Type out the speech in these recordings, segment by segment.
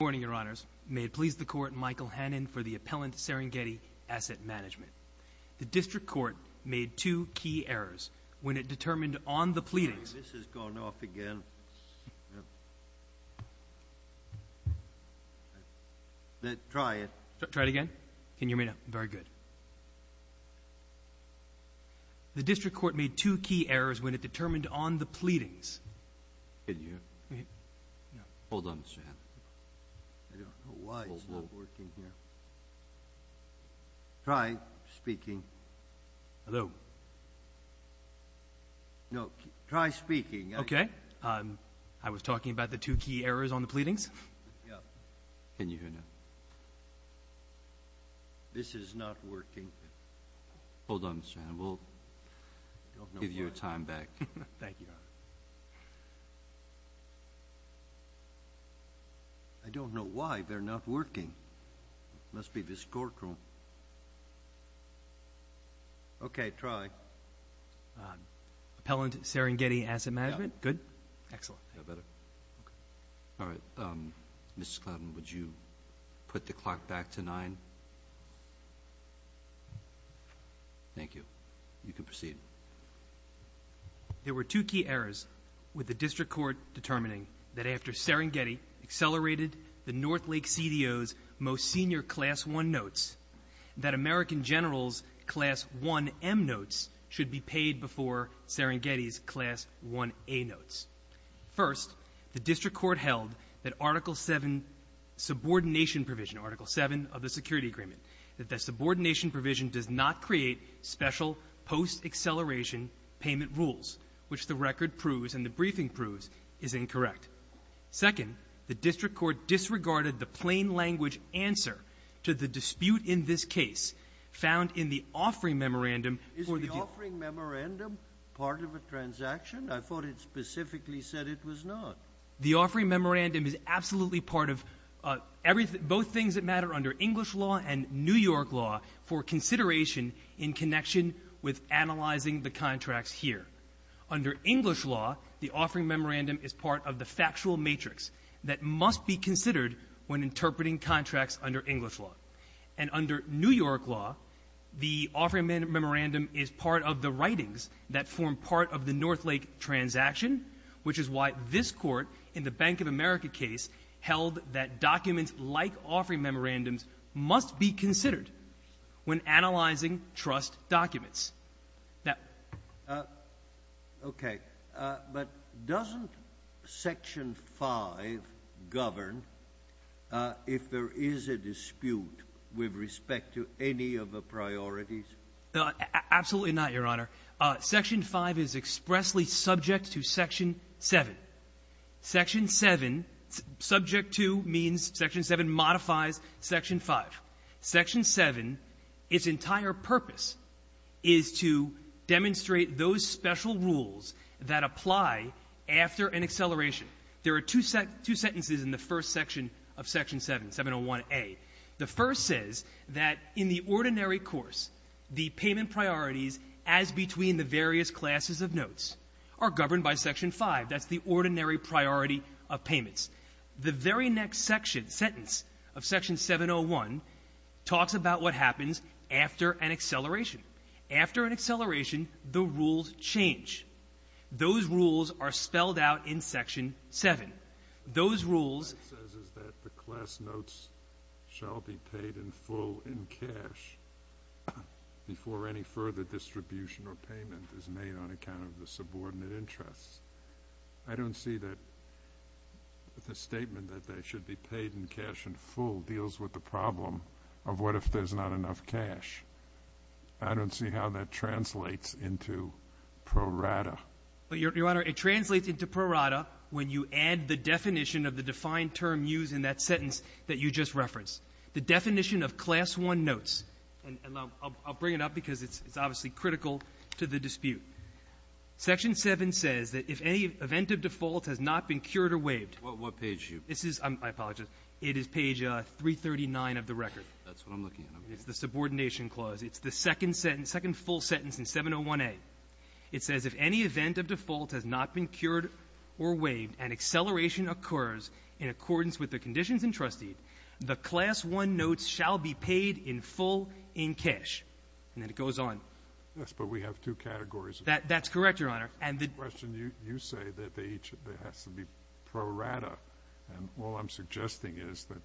May it please the Court, Michael Hannan for the Appellant Serengeti, Asset Management. The District Court made two key errors when it determined on the pleadings This has gone off again. Try it. Try it again? Can you hear me now? Very good. The District Court made two key errors when it determined on the pleadings Can you hear me? Hold on, Mr. Hannan. I don't know why it's not working here. Try speaking. Hello? No. Try speaking. Okay. I was talking about the two key errors on the pleadings. Can you hear me now? This is not working. Hold on, Mr. Hannan. We'll give you a time back. Thank you, Your Honor. I don't know why they're not working. It must be this courtroom. Okay. Try. Appellant Serengeti, Asset Management. Good? Excellent. All right. Mr. Cloughton, would you put the clock back to nine? Thank you. You can proceed. There were two key errors with the District Court determining that after Serengeti accelerated the Northlake CDO's most senior Class 1 notes, that American General's Class 1M notes should be paid before Serengeti's Class 1A notes. First, the District Court held that Article 7 subordination provision, Article 7 of the Security Agreement, that that subordination provision does not create special post-acceleration payment rules, which the record proves and the briefing proves is incorrect. Second, the District Court disregarded the plain-language answer to the dispute in this case found in the offering memorandum. Is the offering memorandum part of a transaction? I thought it specifically said it was not. The offering memorandum is absolutely part of both things that matter under English law and New York law for consideration in connection with analyzing the contracts here. Under English law, the offering memorandum is part of the factual matrix that must be considered when interpreting contracts under English law. And under New York law, the offering memorandum is part of the writings that form part of the Northlake transaction, which is why this Court in the Bank of America case held that documents like offering memorandums must be considered when analyzing trust documents. Okay. But doesn't Section 5 govern if there is a dispute with respect to any of the priorities? Absolutely not, Your Honor. Section 5 is expressly subject to Section 7. Section 7, subject to, means Section 7 modifies Section 5. Section 7, its entire purpose is to demonstrate those special rules that apply after an acceleration. There are two sentences in the first section of Section 7, 701a. The first says that in the ordinary course, the payment priorities as between the various classes of notes are governed by Section 5. That's the ordinary priority of payments. The very next section, sentence of Section 701 talks about what happens after an acceleration. After an acceleration, the rules change. Those rules are spelled out in Section 7. Those rules ---- What it says is that the class notes shall be paid in full in cash before any further distribution or payment is made on account of the subordinate interests. I don't see that the statement that they should be paid in cash in full deals with the problem of what if there's not enough cash. I don't see how that translates into pro rata. Your Honor, it translates into pro rata when you add the definition of the defined term used in that sentence that you just referenced. The definition of class 1 notes ---- and I'll bring it up because it's obviously critical to the dispute. Section 7 says that if any event of default has not been cured or waived ---- What page are you ---- I apologize. It is page 339 of the record. That's what I'm looking at. It's the subordination clause. It's the second sentence, second full sentence in 701A. It says if any event of default has not been cured or waived and acceleration occurs in accordance with the conditions entrusted, the class 1 notes shall be paid in full in cash. And then it goes on. Yes, but we have two categories. That's correct, Your Honor. And the question you say that there has to be pro rata. And all I'm suggesting is that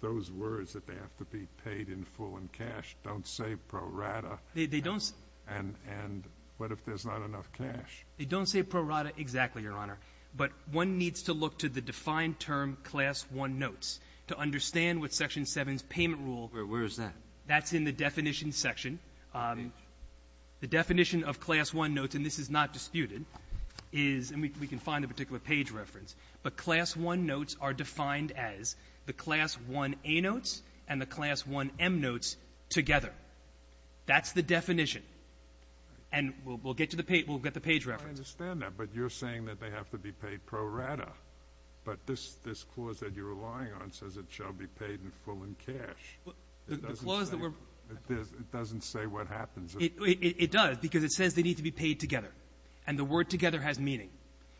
those words that they have to be paid in full in cash don't say pro rata. They don't. And what if there's not enough cash? They don't say pro rata exactly, Your Honor. But one needs to look to the defined term class 1 notes to understand what Section 7's payment rule ---- Where is that? That's in the definition section. The definition of class 1 notes, and this is not disputed, is we can find a particular page reference. But class 1 notes are defined as the class 1A notes and the class 1M notes together. That's the definition. And we'll get to the page. We'll get the page reference. I understand that. But you're saying that they have to be paid pro rata. But this clause that you're relying on says it shall be paid in full in cash. The clause that we're ---- It doesn't say what happens. It does, because it says they need to be paid together. And the word together has meaning.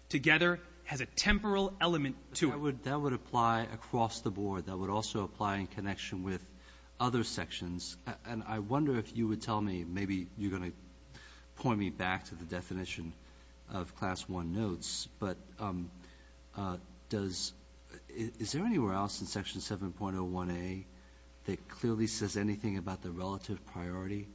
Together has a temporal element to it. That would apply across the board. That would also apply in connection with other sections. And I wonder if you would tell me, maybe you're going to point me back to the definition of class 1 notes, but does ---- is there anywhere else in Section 7.01A that clearly says anything about the relative priority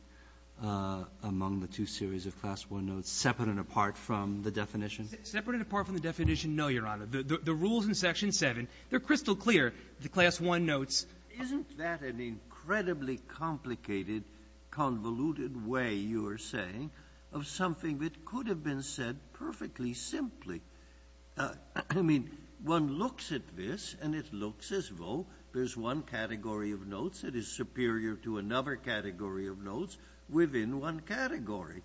among the two series of class 1 notes, separate and apart from the definition? Separate and apart from the definition, no, Your Honor. The rules in Section 7, they're crystal clear. The class 1 notes ---- Isn't that an incredibly complicated, convoluted way, you are saying, of something that could have been said perfectly simply? I mean, one looks at this, and it looks as though there's one category of notes that is superior to another category of notes within one category.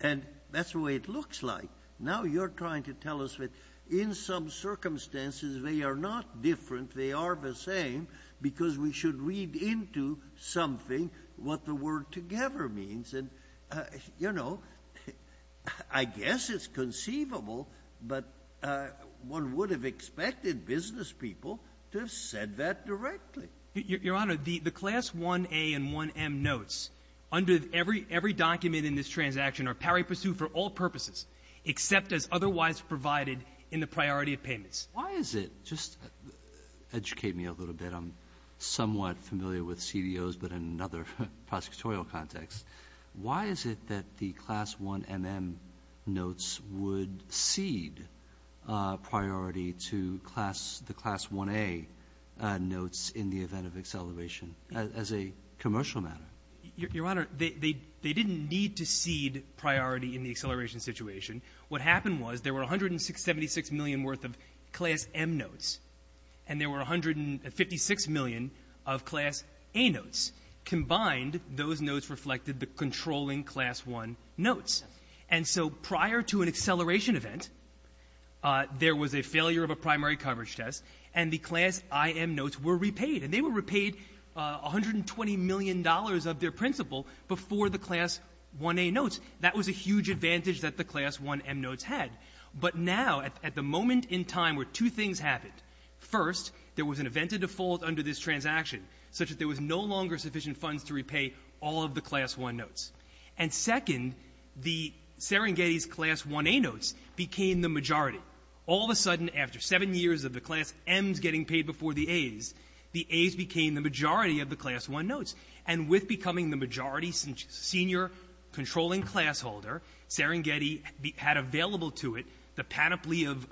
And that's the way it looks like. Now you're trying to tell us that in some circumstances they are not different, they are the same, because we should read into something what the word together means. And, you know, I guess it's conceivable, but one would have expected business people to have said that directly. Your Honor, the class 1A and 1M notes under every document in this transaction are pari pursu for all purposes, except as otherwise provided in the priority of payments. Why is it? Just educate me a little bit. I'm somewhat familiar with CDOs, but in another prosecutorial context. Why is it that the class 1MM notes would cede priority to the class 1A notes in the event of acceleration as a commercial matter? Your Honor, they didn't need to cede priority in the acceleration situation. What happened was there were 176 million worth of class M notes, and there were 156 million of class A notes. Combined, those notes reflected the controlling class 1 notes. And so prior to an acceleration event, there was a failure of a primary coverage test, and the class IM notes were repaid. And they were repaid $120 million of their principal before the class 1A notes. That was a huge advantage that the class 1M notes had. But now, at the moment in time where two things happened, first, there was an event of default under this transaction, such that there was no longer sufficient funds to repay all of the class 1 notes. And second, the Serengeti's class 1A notes became the majority. All of a sudden, after seven years of the class M's getting paid before the A's, the A's became the majority of the class 1 notes. And with becoming the majority senior controlling class holder, Serengeti had available to it the panoply of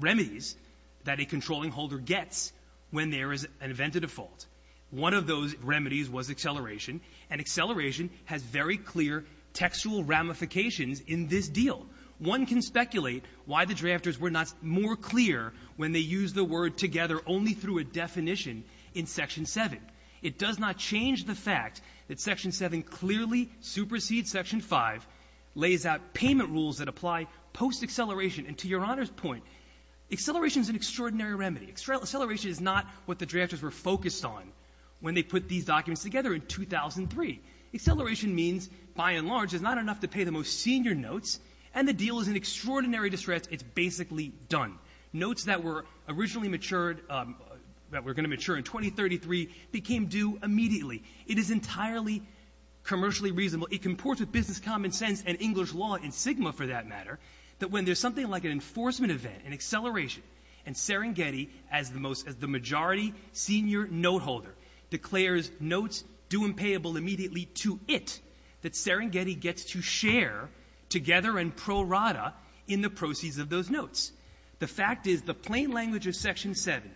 remedies that a controlling holder gets when there is an event of default. One of those remedies was acceleration, and acceleration has very clear textual ramifications in this deal. One can speculate why the drafters were not more clear when they used the word together only through a definition in Section 7. It does not change the fact that Section 7 clearly supersedes Section 5, lays out payment rules that apply post-acceleration. And to Your Honor's point, acceleration is an extraordinary remedy. Acceleration is not what the drafters were focused on when they put these documents together in 2003. Acceleration means, by and large, it's not enough to pay the most senior notes, and the deal is in extraordinary distress. It's basically done. Notes that were originally matured, that were going to mature in 2033, became due immediately. It is entirely commercially reasonable. It comports with business common sense and English law in SGMA, for that matter, that when there's something like an enforcement event, an acceleration, and Serengeti as the majority senior note holder declares notes due and payable immediately to it, that Serengeti gets to share together and pro rata in the proceeds of those notes. The fact is the plain language of Section 7,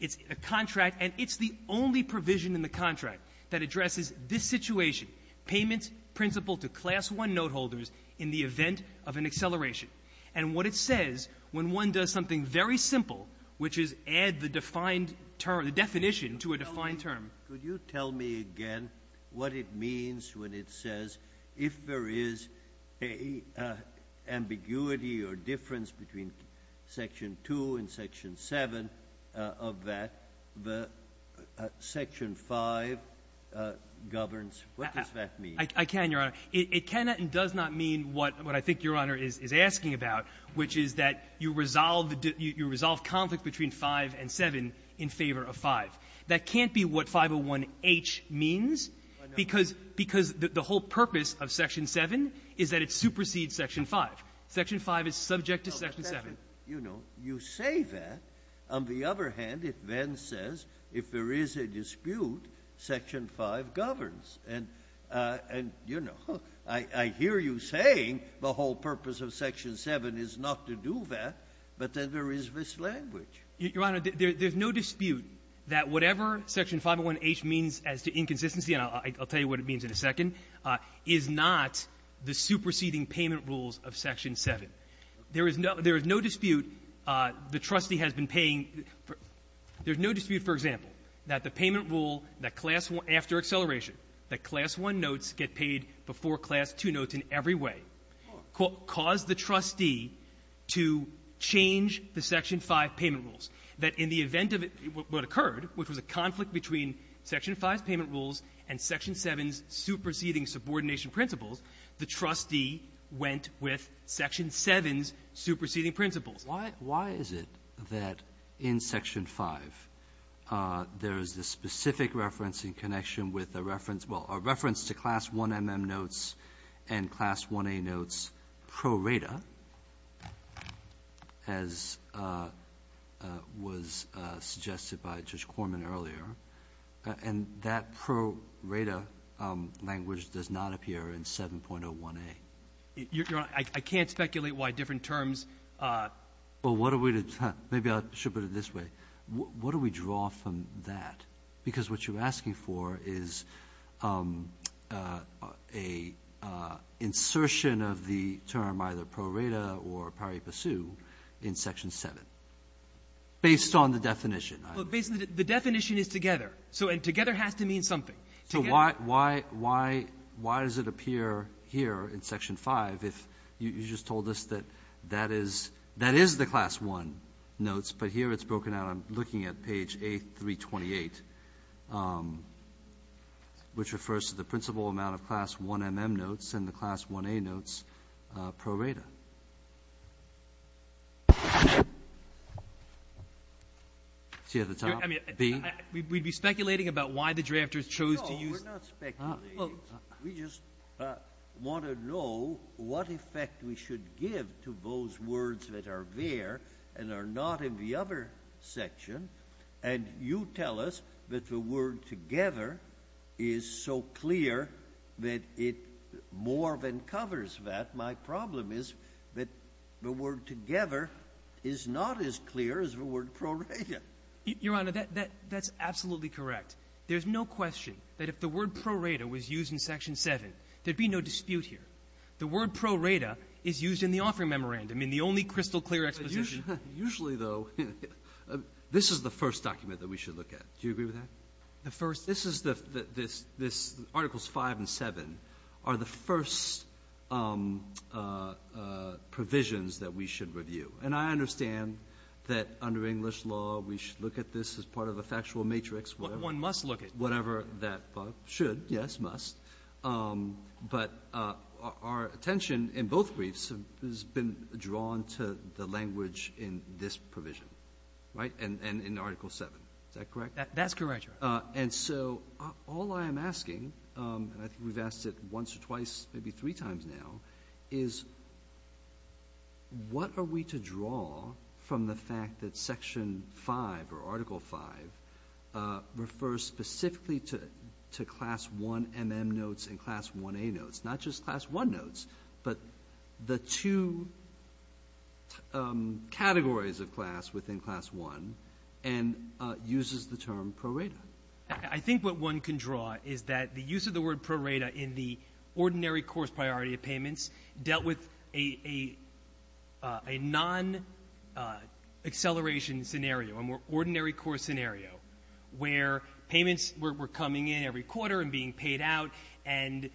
it's a contract, and it's the only provision in the contract that addresses this situation, payments principal to Class 1 note holders in the event of an acceleration. And what it says when one does something very simple, which is add the defined term, the definition to a defined term. Could you tell me again what it means when it says if there is an ambiguity or Section 5 governs, what does that mean? I can, Your Honor. It cannot and does not mean what I think Your Honor is asking about, which is that you resolve conflict between 5 and 7 in favor of 5. That can't be what 501H means because the whole purpose of Section 7 is that it supersedes Section 5. Section 5 is subject to Section 7. But, you know, you say that. On the other hand, it then says if there is a dispute, Section 5 governs. And, you know, I hear you saying the whole purpose of Section 7 is not to do that, but then there is mislanguage. Your Honor, there's no dispute that whatever Section 501H means as to inconsistency and I'll tell you what it means in a second, is not the superseding payment rules of Section 7. There is no dispute the trustee has been paying. There's no dispute, for example, that the payment rule that class one, after acceleration, that class one notes get paid before class two notes in every way caused the trustee to change the Section 5 payment rules, that in the event of what occurred, which was a conflict between Section 5's payment rules and Section 7's superseding subordination principles, the trustee went with Section 7's superseding principles. Why is it that in Section 5 there is this specific reference in connection with a reference, well, a reference to class one MM notes and class one A notes pro rata, as was suggested by Judge Corman earlier, and that pro rata language does not appear in 7.01A? I can't speculate why different terms. Well, what are we to do? Maybe I should put it this way. What do we draw from that? Because what you're asking for is an insertion of the term either pro rata or pari pursu in Section 7, based on the definition. The definition is together. So together has to mean something. So why does it appear here in Section 5 if you just told us that that is the class one notes, but here it's broken out. I'm looking at page A328, which refers to the principal amount of class one MM notes and the class one A notes pro rata. See at the top? We'd be speculating about why the drafters chose to use. No, we're not speculating. We just want to know what effect we should give to those words that are there and are not in the other section, and you tell us that the word together is so clear that it more than covers that. My problem is that the word together is not as clear as the word pro rata. Your Honor, that's absolutely correct. There's no question that if the word pro rata was used in Section 7, there'd be no dispute here. The word pro rata is used in the offering memorandum in the only crystal clear exposition. Usually, though, this is the first document that we should look at. Do you agree with that? The first? This is the articles 5 and 7 are the first provisions that we should review. And I understand that under English law, we should look at this as part of a factual matrix, whatever. One must look at it. Whatever that should, yes, must. But our attention in both briefs has been drawn to the language in this provision, right, and in Article 7. Is that correct? That's correct, Your Honor. And so all I am asking, and I think we've asked it once or twice, maybe three times now, is what are we to draw from the fact that Section 5, or Article 5, refers specifically to Class 1MM notes and Class 1A notes, not just Class 1 notes, but the two categories of class within Class 1, and uses the term pro rata. I think what one can draw is that the use of the word pro rata in the ordinary course priority of payments dealt with a non-acceleration scenario, a more ordinary course scenario, where payments were coming in every quarter and being paid out, and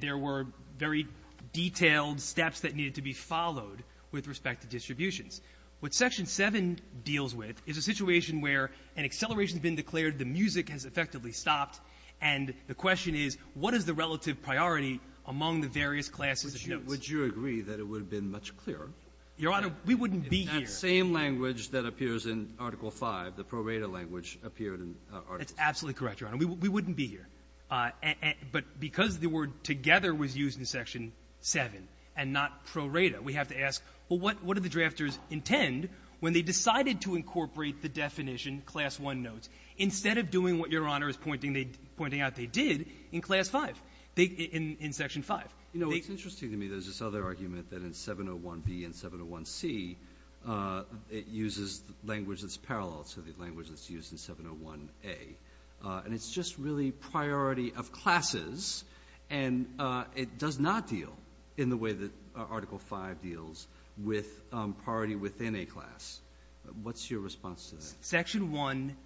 there were very detailed steps that needed to be followed with respect to distributions. What Section 7 deals with is a situation where an acceleration has been declared, the music has effectively stopped, and the question is what is the relative priority among the various classes of notes. Would you agree that it would have been much clearer? Your Honor, we wouldn't be here. In that same language that appears in Article 5, the pro rata language appeared in Article 7. That's absolutely correct, Your Honor. We wouldn't be here. But because the word together was used in Section 7 and not pro rata, we have to ask, well, what do the drafters intend when they decided to incorporate the definition class 1 notes, instead of doing what Your Honor is pointing out they did in Class 5, in Section 5? You know, it's interesting to me there's this other argument that in 701B and 701C, it uses language that's parallel to the language that's used in 701A. And it's just really priority of classes, and it does not deal in the way that Article 5 deals with priority within a class. What's your response to that? Section 1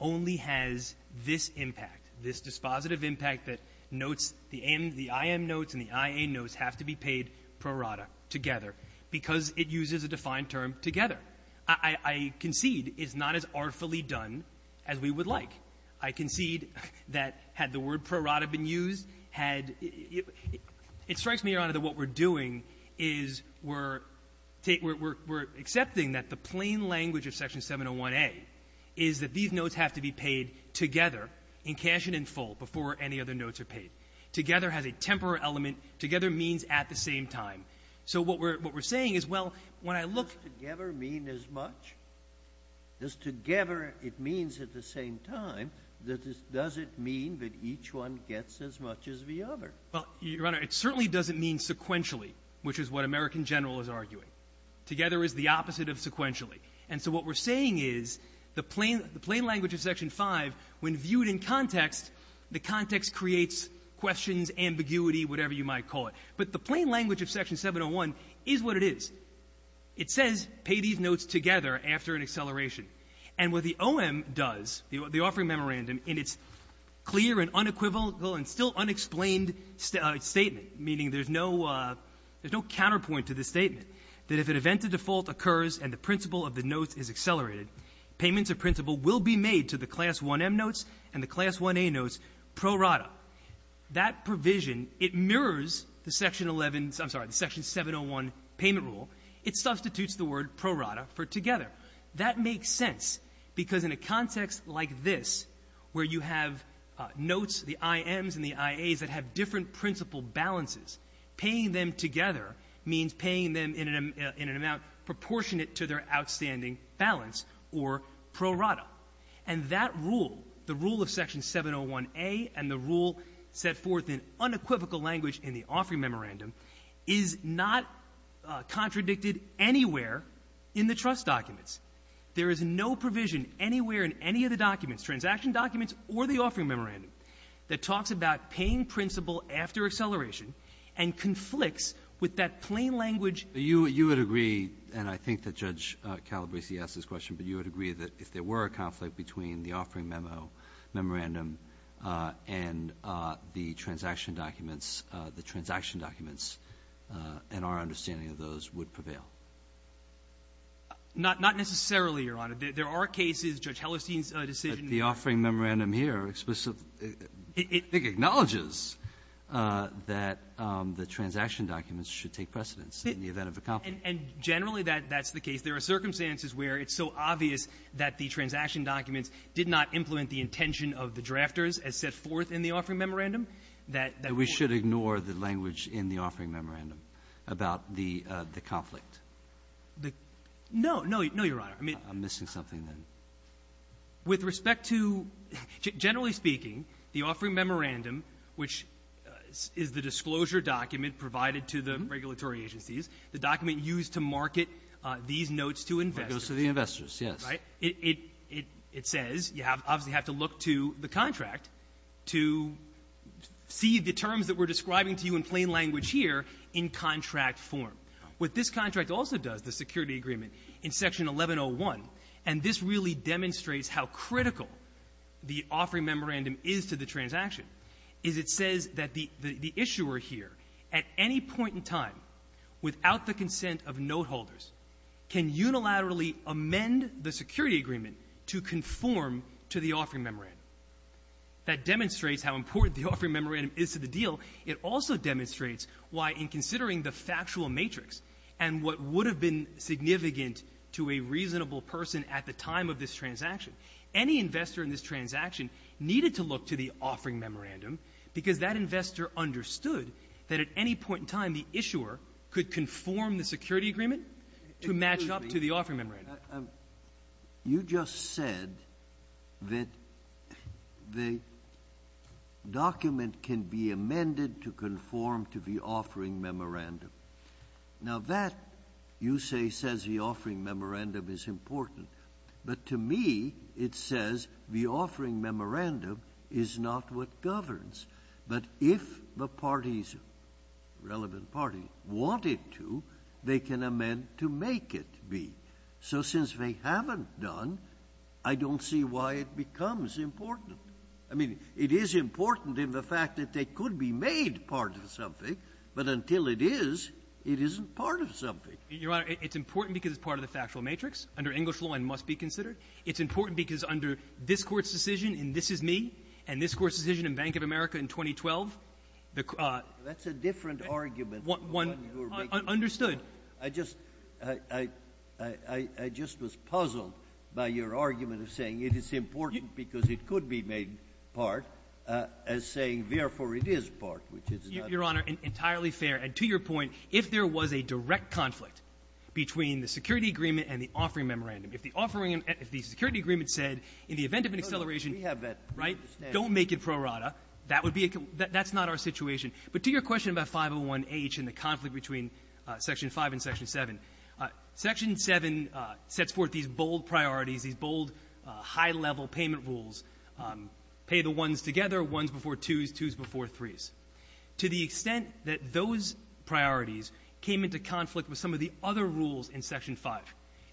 only has this impact, this dispositive impact that notes, the IM notes and the IA notes have to be paid pro rata together, because it uses a defined term together. I concede it's not as artfully done as we would like. I concede that had the word pro rata been used, had — it strikes me, Your Honor, that what we're doing is we're — we're accepting that the plain language of Section 701A is that these notes have to be paid together in cash and in full before any other notes are paid. Together has a temporal element. Together means at the same time. So what we're — what we're saying is, well, when I look — Does together mean as much? Does together — it means at the same time. Does it mean that each one gets as much as the other? Well, Your Honor, it certainly doesn't mean sequentially, which is what American General is arguing. Together is the opposite of sequentially. And so what we're saying is the plain language of Section 5, when viewed in context, the context creates questions, ambiguity, whatever you might call it. But the plain language of Section 701 is what it is. It says pay these notes together after an acceleration. And what the OM does, the offering memorandum, in its clear and unequivocal and still unexplained statement, meaning there's no — there's no counterpoint to this statement, that if at event a default occurs and the principal of the notes is accelerated, payments of principal will be made to the Class 1M notes and the Class 1A notes pro rata. That provision, it mirrors the Section 11 — I'm sorry, the Section 701 payment rule. It substitutes the word pro rata for together. That makes sense because in a context like this, where you have notes, the IMs and the IAs that have different principal balances, paying them together means paying them in an amount proportionate to their outstanding balance or pro rata. And that rule, the rule of Section 701A and the rule set forth in unequivocal language in the offering memorandum, is not contradicted anywhere in the trust documents. There is no provision anywhere in any of the documents, transaction documents or the offering memorandum, that talks about paying principal after acceleration and conflicts with that plain language. You would agree — and I think that Judge Calabresi asked this question — but you would agree that if there were a conflict between the offering memo, memorandum and the transaction documents, the transaction documents and our understanding of those would prevail? Not necessarily, Your Honor. There are cases, Judge Hellerstein's decision — But the offering memorandum here explicitly, I think, acknowledges that the transaction documents should take precedence in the event of a conflict. And generally, that's the case. There are circumstances where it's so obvious that the transaction documents did not implement the intention of the drafters as set forth in the offering memorandum that — That we should ignore the language in the offering memorandum about the conflict. No. No, Your Honor. I'm missing something then. With respect to — generally speaking, the offering memorandum, which is the disclosure document provided to the regulatory agencies, the document used to market these notes to investors — Goes to the investors, yes. Right? It says you obviously have to look to the contract to see the terms that we're describing to you in plain language here in contract form. What this contract also does, the security agreement, in Section 1101, and this really demonstrates how critical the offering memorandum is to the transaction, is it says that the issuer here at any point in time, without the consent of noteholders, can unilaterally amend the security agreement to conform to the offering memorandum. That demonstrates how important the offering memorandum is to the deal. It also demonstrates why in considering the factual matrix and what would have been significant to a reasonable person at the time of this transaction, any investor in this transaction needed to look to the offering memorandum because that investor understood that at any point in time the issuer could conform the security agreement to match up to the offering memorandum. You just said that the document can be amended to conform to the offering memorandum. Now, that, you say, says the offering memorandum is important. But to me, it says the offering memorandum is not what governs. But if the parties, relevant parties, want it to, they can amend to make it be. So since they haven't done, I don't see why it becomes important. I mean, it is important in the fact that they could be made part of something, but until it is, it isn't part of something. Your Honor, it's important because it's part of the factual matrix. Under English law, it must be considered. It's important because under this Court's decision in This Is Me and this Court's decision in Bank of America in 2012. That's a different argument. Understood. I just was puzzled by your argument of saying it is important because it could be made part, as saying, therefore, it is part, which is not. Your Honor, entirely fair. And to your point, if there was a direct conflict between the security agreement and the offering memorandum, if the security agreement said in the event of an acceleration, we have that, right? Don't make it pro rata. That would be a conclusion. That's not our situation. But to your question about 501H and the conflict between Section 5 and Section 7, Section 7 sets forth these bold priorities, these bold high-level payment rules, pay the ones together, ones before twos, twos before threes. To the extent that those priorities came into conflict with some of the other rules in Section 5,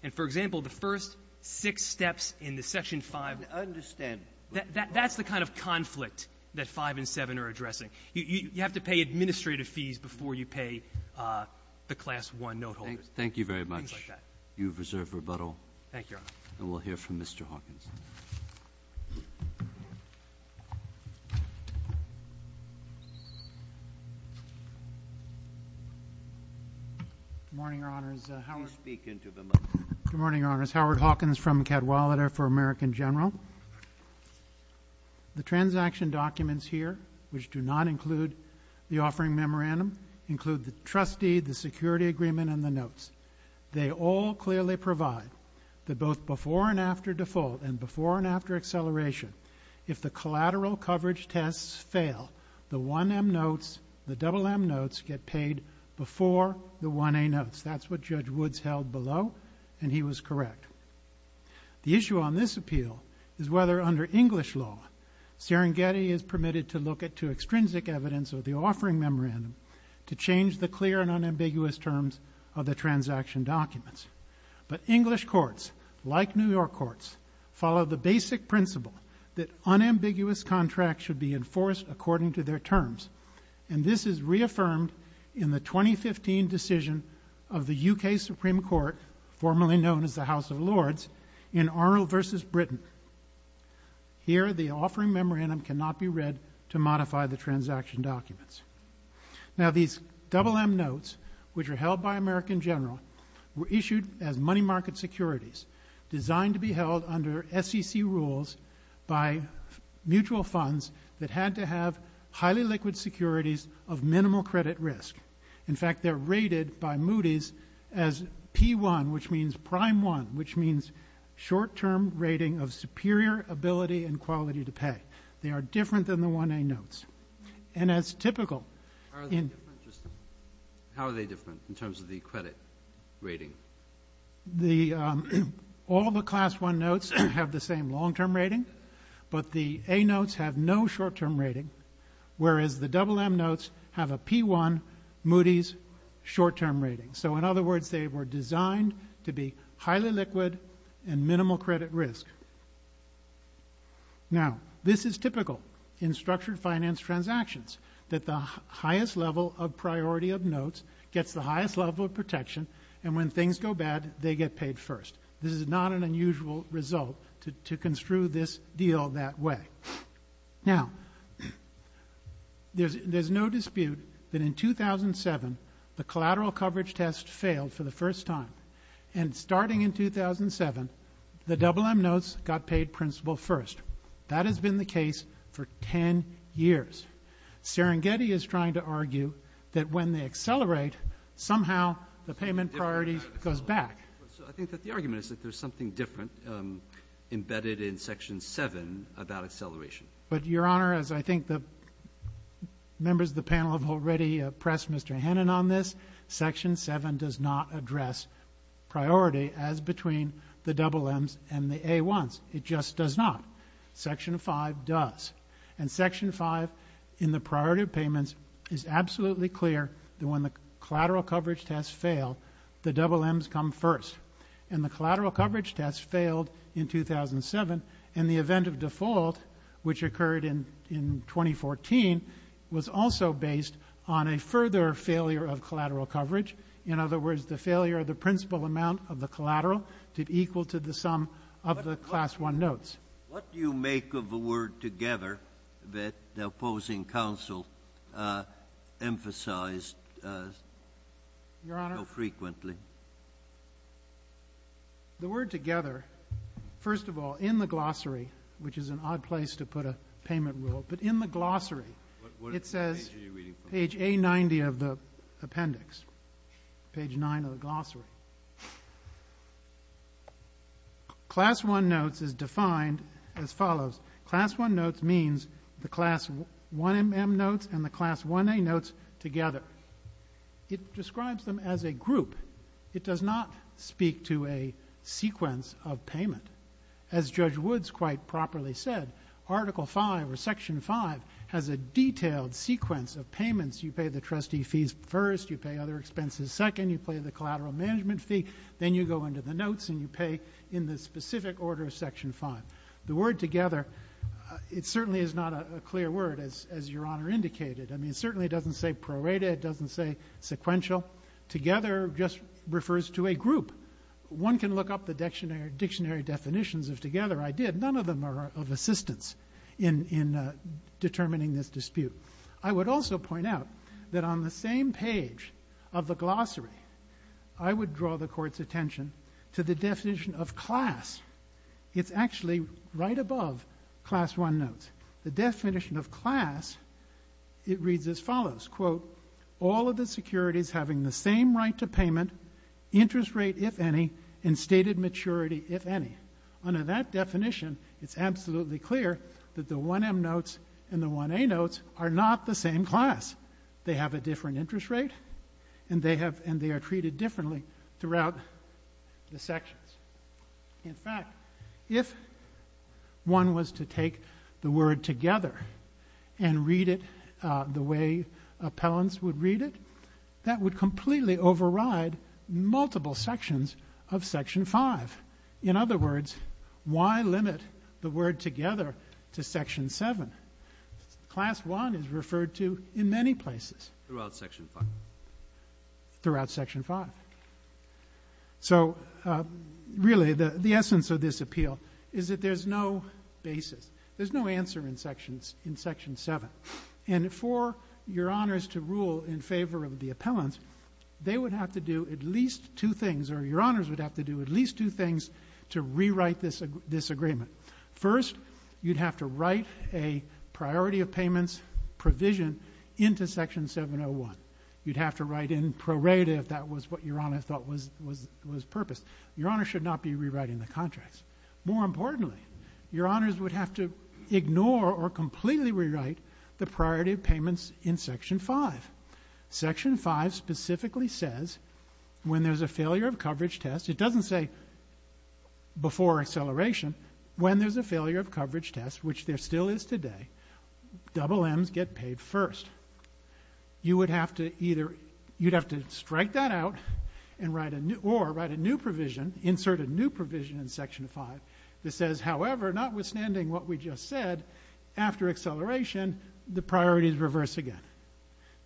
and, for example, the first six steps in the Section 5. I don't understand. That's the kind of conflict that 5 and 7 are addressing. You have to pay administrative fees before you pay the Class I note holders. Thank you very much. Things like that. You have reserved rebuttal. Thank you, Your Honor. And we'll hear from Mr. Hawkins. Good morning, Your Honors. I'll speak into the microphone. Good morning, Your Honors. Howard Hawkins from Cadwalader for American General. The transaction documents here, which do not include the offering memorandum, include the trustee, the security agreement, and the notes. They all clearly provide that both before and after default and before and after acceleration, if the collateral coverage tests fail, the 1M notes, the double M notes get paid before the 1A notes. That's what Judge Woods held below, and he was correct. The issue on this appeal is whether, under English law, Serengeti is permitted to look to extrinsic evidence of the offering memorandum to change the clear and unambiguous terms of the transaction documents. But English courts, like New York courts, follow the basic principle that unambiguous contracts should be enforced according to their terms, and this is reaffirmed in the 2015 decision of the UK Supreme Court, formerly known as the House of Lords, in Arnold v. Britain. Here, the offering memorandum cannot be read to modify the transaction documents. Now, these double M notes, which are held by American General, were issued as money market securities, designed to be held under SEC rules by mutual funds that had to have highly liquid securities of minimal credit risk. In fact, they're rated by Moody's as P1, which means prime one, which means short-term rating of superior ability and quality to pay. They are different than the 1A notes. And as typical in the... How are they different in terms of the credit rating? The... All the class one notes have the same long-term rating, but the A notes have no short-term rating, whereas the double M notes have a P1 Moody's short-term rating. So, in other words, they were designed to be highly liquid and minimal credit risk. Now, this is typical in structured finance transactions, that the highest level of priority of notes gets the highest level of This is not an unusual result to construe this deal that way. Now, there's no dispute that in 2007, the collateral coverage test failed for the first time. And starting in 2007, the double M notes got paid principal first. That has been the case for 10 years. Serengeti is trying to argue that when they accelerate, somehow the payment priority goes back. I think that the argument is that there's something different embedded in section 7 about acceleration. But, Your Honor, as I think the members of the panel have already pressed Mr. Hannon on this, section 7 does not address priority as between the double M's and the A1's. It just does not. Section 5 does. And section 5, in the priority of payments, is absolutely clear that when the collateral coverage tests fail, the double M's come first. And the collateral coverage test failed in 2007. And the event of default, which occurred in 2014, was also based on a further failure of collateral coverage. In other words, the failure of the principal amount of the collateral to be equal to the sum of the class 1 notes. What do you make of the word together that the opposing counsel emphasized so frequently? Your Honor, the word together, first of all, in the glossary, which is an odd place to put a payment rule, but in the glossary it says page A90 of the appendix, page 9 of the glossary. Class 1 notes is defined as follows. Class 1 notes means the class 1M notes and the class 1A notes together. It describes them as a group. It does not speak to a sequence of payment. As Judge Woods quite properly said, article 5 or section 5 has a detailed sequence of payments. You pay the trustee fees first. You pay other expenses second. You pay the collateral management fee. Then you go into the notes and you pay in the specific order of section 5. The word together certainly is not a clear word, as Your Honor indicated. It certainly doesn't say prorated. It doesn't say sequential. Together just refers to a group. One can look up the dictionary definitions of together. I did. None of them are of assistance in determining this dispute. I would also point out that on the same page of the glossary, I would draw the Court's attention to the definition of class. It's actually right above class 1 notes. The definition of class, it reads as follows, quote, all of the securities having the same right to payment, interest rate if any, and stated maturity if any. Under that definition, it's absolutely clear that the 1M notes and the 1A notes are not the same class. They have a different interest rate and they are treated differently throughout the sections. In fact, if one was to take the word together and read it the way appellants would read it, that would completely override multiple sections of section 5. In other words, why limit the word together to section 7? Class 1 is referred to in many places. Throughout section 5. Throughout section 5. So really the essence of this appeal is that there's no basis. There's no answer in section 7. And for Your Honors to rule in favor of the appellants, they would have to do at least two things or Your Honors would have to do at least two things to rewrite this agreement. First, you'd have to write a priority of payments provision into section 701. You'd have to write in prorated if that was what Your Honor thought was purpose. Your Honor should not be rewriting the contracts. More importantly, Your Honors would have to ignore or completely rewrite the priority of payments in section 5. Section 5 specifically says when there's a failure of coverage test, it doesn't say before acceleration, when there's a failure of coverage test, which there still is today, double Ms get paid first. You would have to either strike that out or write a new provision, insert a new provision in section 5 that says, however, notwithstanding what we just said, after acceleration, the priorities reverse again.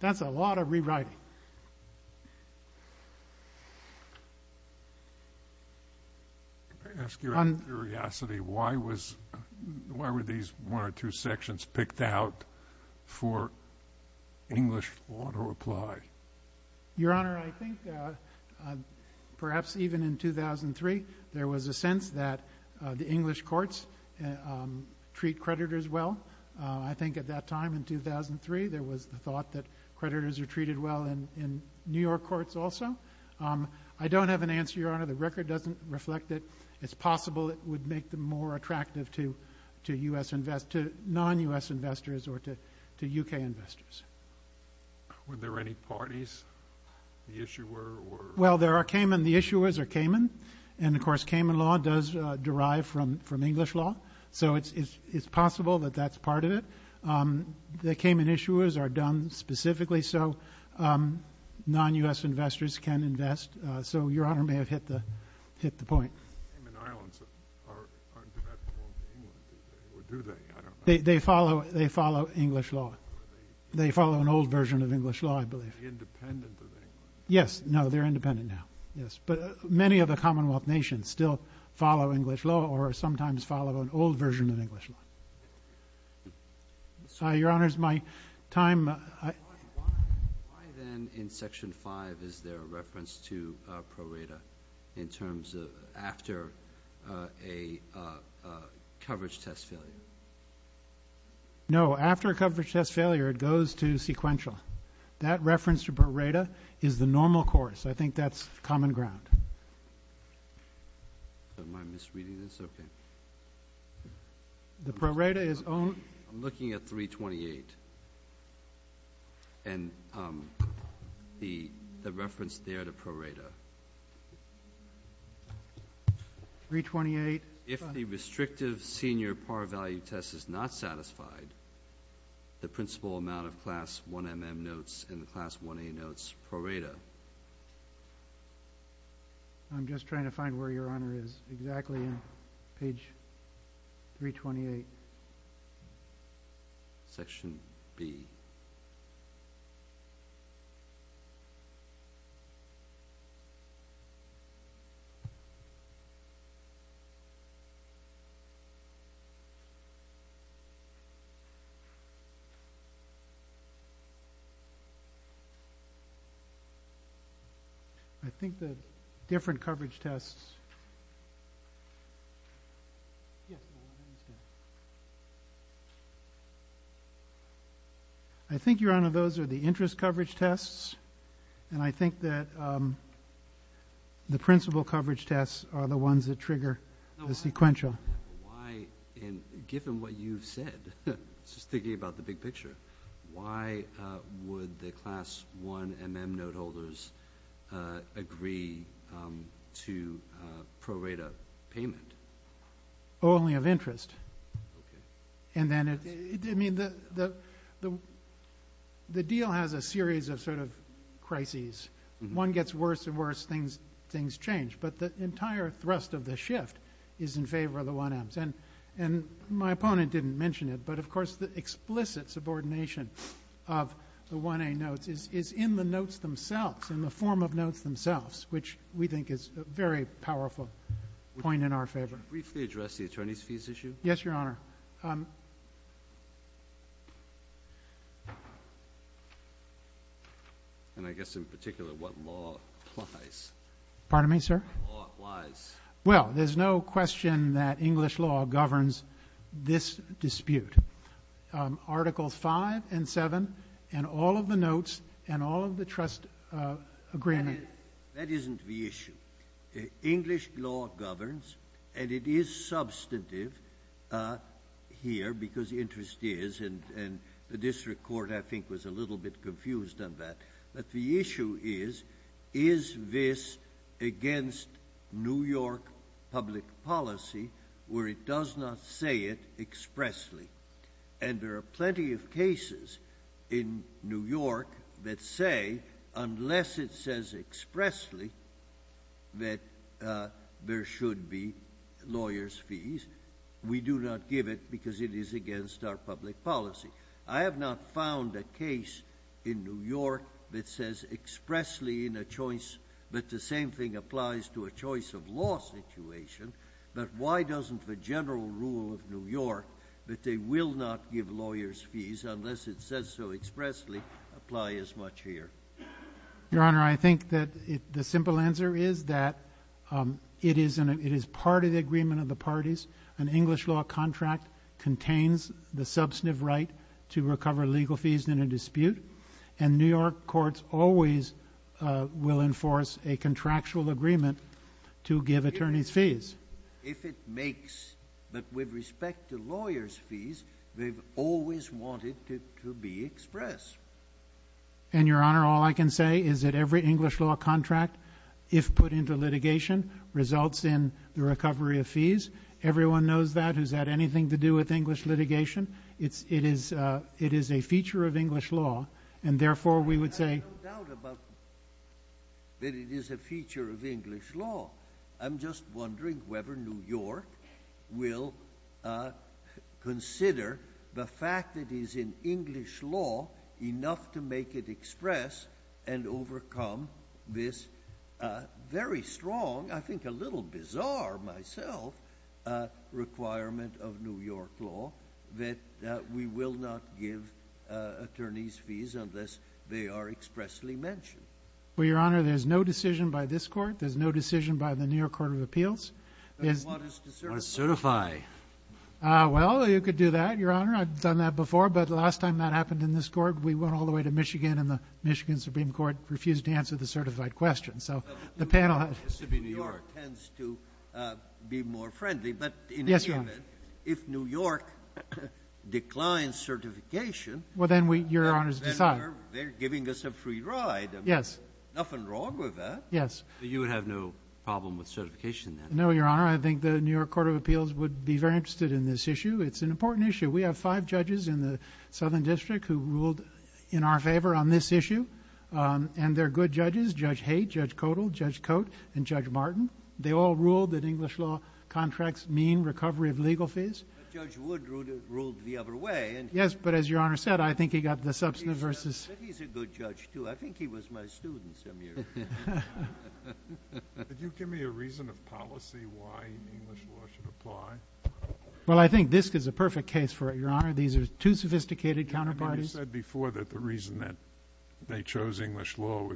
That's a lot of rewriting. I ask you out of curiosity, why were these one or two sections picked out for English auto-apply? Your Honor, I think perhaps even in 2003, there was a sense that the English courts treat creditors well. I think at that time in 2003, there was the thought that creditors are treated well in New York courts also. I don't have an answer, Your Honor. The record doesn't reflect it. It's possible it would make them more attractive to non-U.S. investors or to U.K. investors. Were there any parties, the issuer? Well, there are Cayman. The issuers are Cayman. And, of course, Cayman law does derive from English law. So it's possible that that's part of it. The Cayman issuers are done specifically so non-U.S. investors can invest. So Your Honor may have hit the point. Cayman Islands aren't directly linked to England, do they? They follow English law. They follow an old version of English law, I believe. They're independent of England. Yes. No, they're independent now. Yes. But many of the Commonwealth nations still follow English law or sometimes follow an old version of English law. Your Honors, my time. Why then in Section 5 is there a reference to pro rata in terms of after a coverage test failure? No. After a coverage test failure, it goes to sequential. That reference to pro rata is the normal course. I think that's common ground. Am I misreading this? Okay. The pro rata is only? I'm looking at 328 and the reference there to pro rata. 328. If the restrictive senior par value test is not satisfied, the principal amount of Class 1MM notes and the Class 1A notes pro rata. I'm just trying to find where Your Honor is. Exactly on page 328. Section B. I think the different coverage tests. Yes, Your Honor, I understand. I think, Your Honor, those are the interest coverage tests, and I think that the principal coverage tests are the ones that trigger the sequential. Given what you've said, just thinking about the big picture, why would the Class 1MM note holders agree to pro rata payment? Only of interest. Okay. I mean, the deal has a series of sort of crises. When one gets worse and worse, things change. But the entire thrust of the shift is in favor of the 1Ms. And my opponent didn't mention it, but, of course, the explicit subordination of the 1A notes is in the notes themselves, in the form of notes themselves, which we think is a very powerful point in our favor. Briefly address the attorney's fees issue. Yes, Your Honor. And I guess in particular what law applies. Pardon me, sir? What law applies. Well, there's no question that English law governs this dispute. Articles 5 and 7 and all of the notes and all of the trust agreement. That isn't the issue. English law governs, and it is substantive here because interest is, and the district court, I think, was a little bit confused on that. But the issue is, is this against New York public policy where it does not say it expressly? And there are plenty of cases in New York that say, unless it says expressly that there should be lawyers' fees, we do not give it because it is against our public policy. I have not found a case in New York that says expressly in a choice, but the same thing applies to a choice of law situation. But why doesn't the general rule of New York that they will not give lawyers' fees unless it says so expressly apply as much here? Your Honor, I think that the simple answer is that it is part of the agreement of the parties. An English law contract contains the substantive right to recover legal fees in a dispute, and New York courts always will enforce a contractual agreement to give attorneys' fees. If it makes, but with respect to lawyers' fees, they've always wanted it to be expressed. And, Your Honor, all I can say is that every English law contract, if put into litigation, results in the recovery of fees. Everyone knows that. Has that anything to do with English litigation? It is a feature of English law, and therefore we would say— I have no doubt about that it is a feature of English law. I'm just wondering whether New York will consider the fact that it is in English law enough to make it express and overcome this very strong, I think a little bizarre myself, requirement of New York law that we will not give attorneys' fees unless they are expressly mentioned. Well, Your Honor, there's no decision by this court. There's no decision by the New York Court of Appeals. What is to certify? Well, you could do that, Your Honor. I've done that before, but the last time that happened in this court, we went all the way to Michigan, and the Michigan Supreme Court refused to answer the certified question. So the panel— New York tends to be more friendly. Yes, Your Honor. But in any event, if New York declines certification— Well, then Your Honor's decide. Then they're giving us a free ride. Yes. Nothing wrong with that. Yes. So you would have no problem with certification then? No, Your Honor. I think the New York Court of Appeals would be very interested in this issue. It's an important issue. We have five judges in the Southern District who ruled in our favor on this issue, and they're good judges. Judge Haight, Judge Codal, Judge Cote, and Judge Martin. They all ruled that English law contracts mean recovery of legal fees. Judge Wood ruled the other way. Yes, but as Your Honor said, I think he got the substantive versus— He's a good judge, too. I think he was my student some years ago. Could you give me a reason of policy why English law should apply? Well, I think this is a perfect case for it, Your Honor. These are two sophisticated counterparties. You said before that the reason that they chose English law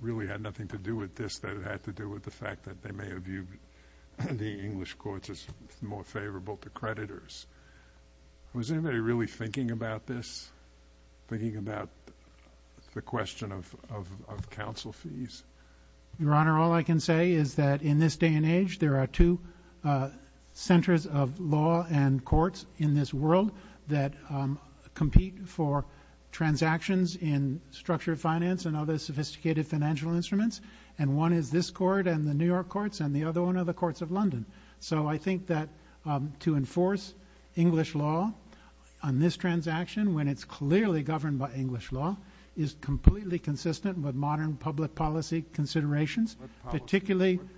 really had nothing to do with this, that it had to do with the fact that they may have viewed the English courts as more favorable to creditors. Was anybody really thinking about this, thinking about the question of counsel fees? Your Honor, all I can say is that in this day and age, there are two centers of law and courts in this world that compete for transactions in structured finance and other sophisticated financial instruments, and one is this court and the New York courts, and the other one are the courts of London. So I think that to enforce English law on this transaction, when it's clearly governed by English law, is completely consistent with modern public policy considerations, particularly— Modern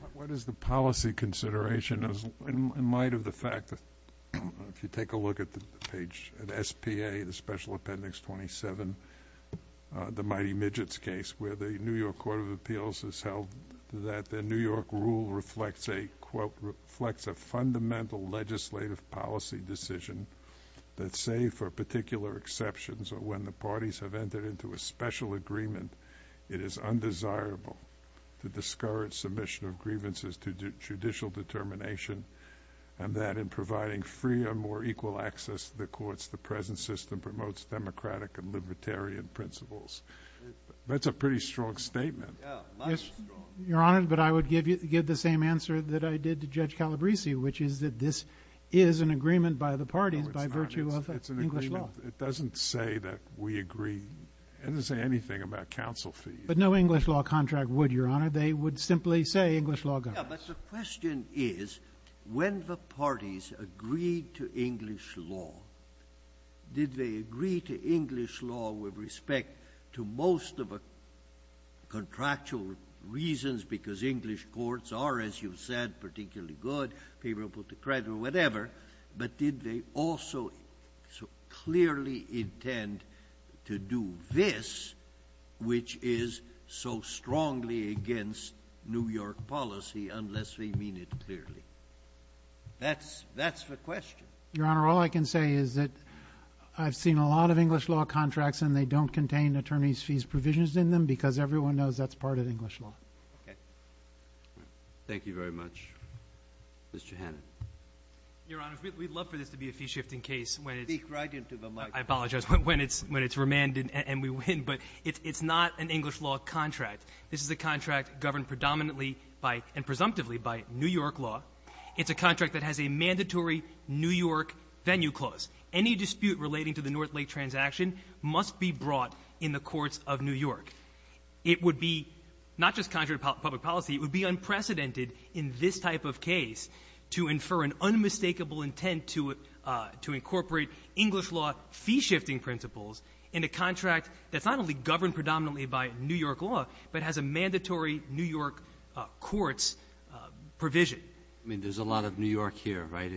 consideration in light of the fact that if you take a look at the page, at SPA, the Special Appendix 27, the Mighty Midgets case, where the New York Court of Appeals has held that the New York rule reflects a quote, reflects a fundamental legislative policy decision that say, for particular exceptions or when the parties have entered into a special agreement, it is undesirable to discourage submission of grievances to judicial determination and that in providing freer, more equal access to the courts, the present system promotes democratic and libertarian principles. That's a pretty strong statement. Your Honor, but I would give the same answer that I did to Judge Calabresi, which is that this is an agreement by the parties by virtue of English law. It doesn't say that we agree. It doesn't say anything about counsel fees. But no English law contract would, Your Honor. They would simply say English law governs. Yeah, but the question is when the parties agreed to English law, did they agree to English law with respect to most of the contractual reasons because English courts are, as you've said, particularly good, favorable to credit or whatever, but did they also so clearly intend to do this, which is so strongly against New York policy unless they mean it clearly? That's the question. Your Honor, all I can say is that I've seen a lot of English law contracts and they don't contain attorney's fees provisions in them because everyone knows that's part of English law. Okay. Thank you very much. Mr. Hannan. Your Honor, we'd love for this to be a fee-shifting case when it's — Speak right into the mic. I apologize. When it's remanded and we win. But it's not an English law contract. This is a contract governed predominantly by and presumptively by New York law. It's a contract that has a mandatory New York venue clause. Any dispute relating to the North Lake transaction must be brought in the courts of New York. It would be not just contrary to public policy. It would be unprecedented in this type of case to infer an unmistakable intent to incorporate English law fee-shifting principles in a contract that's not only governed predominantly by New York law, but has a mandatory New York courts provision. I mean, there's a lot of New York here, right?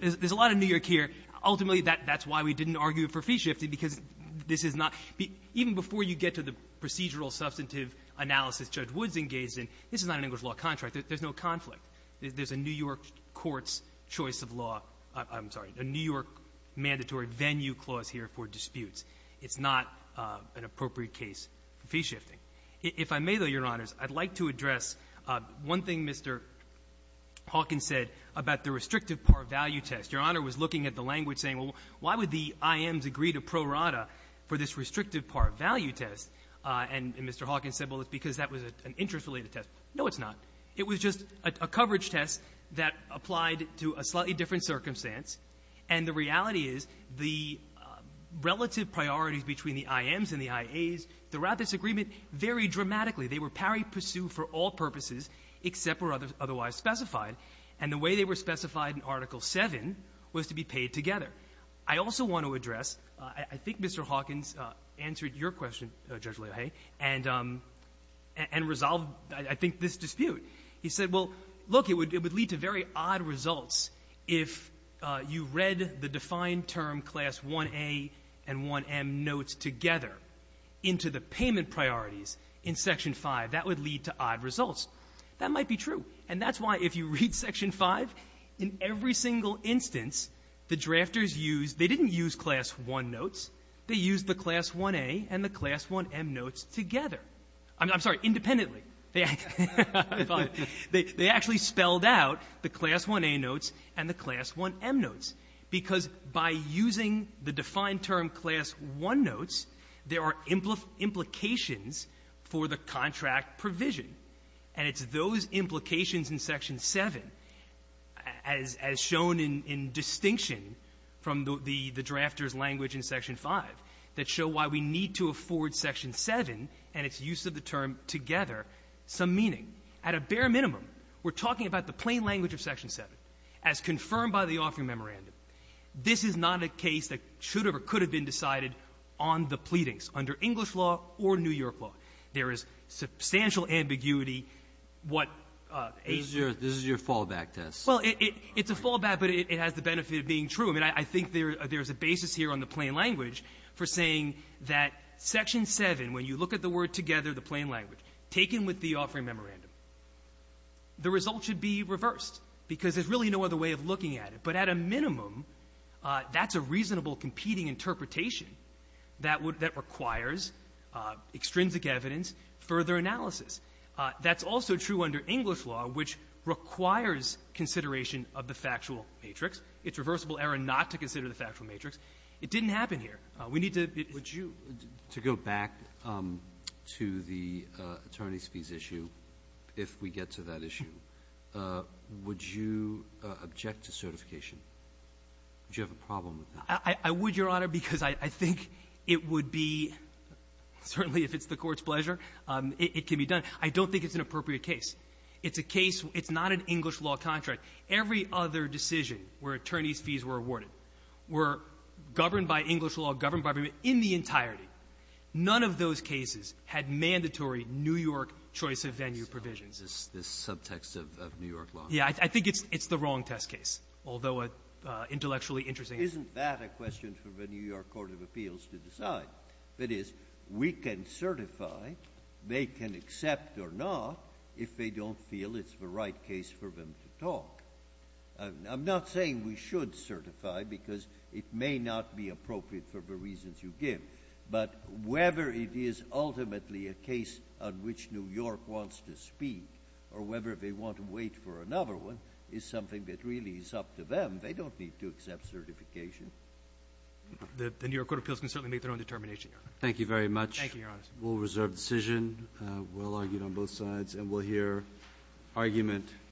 There's a lot of New York here. Ultimately, that's why we didn't argue for fee-shifting, because this is not — even before you get to the procedural substantive analysis Judge Woods engaged in, this is not an English law contract. There's no conflict. There's a New York courts' choice of law — I'm sorry, a New York mandatory venue clause here for disputes. It's not an appropriate case for fee-shifting. If I may, though, Your Honors, I'd like to address one thing Mr. Hawkins said about the restrictive par value test. Your Honor was looking at the language saying, well, why would the IMs agree to pro rata for this restrictive par value test? And Mr. Hawkins said, well, it's because that was an interest-related test. No, it's not. It was just a coverage test that applied to a slightly different circumstance. And the reality is the relative priorities between the IMs and the IAs throughout this agreement vary dramatically. They were pari pursu for all purposes except for otherwise specified. And the way they were specified in Article VII was to be paid together. I also want to address — I think Mr. Hawkins answered your question, Judge Lahaye, and resolved, I think, this dispute. He said, well, look, it would lead to very odd results if you read the defined term Class 1A and 1M notes together into the payment priorities in Section V. That would lead to odd results. That might be true. And that's why if you read Section V, in every single instance, the drafters used — they didn't use Class 1 notes. They used the Class 1A and the Class 1M notes together. I'm sorry, independently. They actually spelled out the Class 1A notes and the Class 1M notes, because by using the defined term Class 1 notes, there are implications for the contract provision. And it's those implications in Section VII, as shown in distinction from the drafter's that show why we need to afford Section VII and its use of the term together some meaning. At a bare minimum, we're talking about the plain language of Section VII. As confirmed by the offering memorandum, this is not a case that should have or could have been decided on the pleadings under English law or New York law. There is substantial ambiguity. What aims to — Breyer, this is your fallback test. Well, it's a fallback, but it has the benefit of being true. I mean, I think there's a basis here on the plain language for saying that Section VII, when you look at the word together, the plain language, taken with the offering memorandum, the result should be reversed, because there's really no other way of looking at it. But at a minimum, that's a reasonable competing interpretation that requires extrinsic evidence, further analysis. That's also true under English law, which requires consideration of the factual matrix. It's reversible error not to consider the factual matrix. It didn't happen here. We need to — Would you, to go back to the attorneys' fees issue, if we get to that issue, would you object to certification? Would you have a problem with that? I would, Your Honor, because I think it would be, certainly if it's the Court's pleasure, it can be done. I don't think it's an appropriate case. It's a case — it's not an English law contract. Every other decision where attorneys' fees were awarded were governed by English law, governed by every — in the entirety. None of those cases had mandatory New York choice-of-venue provisions. This subtext of New York law. Yeah. I think it's the wrong test case, although intellectually interesting. Isn't that a question for the New York court of appeals to decide? That is, we can certify, they can accept or not if they don't feel it's the right case for them to talk. I'm not saying we should certify because it may not be appropriate for the reasons you give, but whether it is ultimately a case on which New York wants to speak or whether they want to wait for another one is something that really is up to them. They don't need to accept certification. The New York court of appeals can certainly make their own determination, Your Honor. Thank you very much. Thank you, Your Honor. We'll reserve decision. We'll argue on both sides, and we'll hear argument.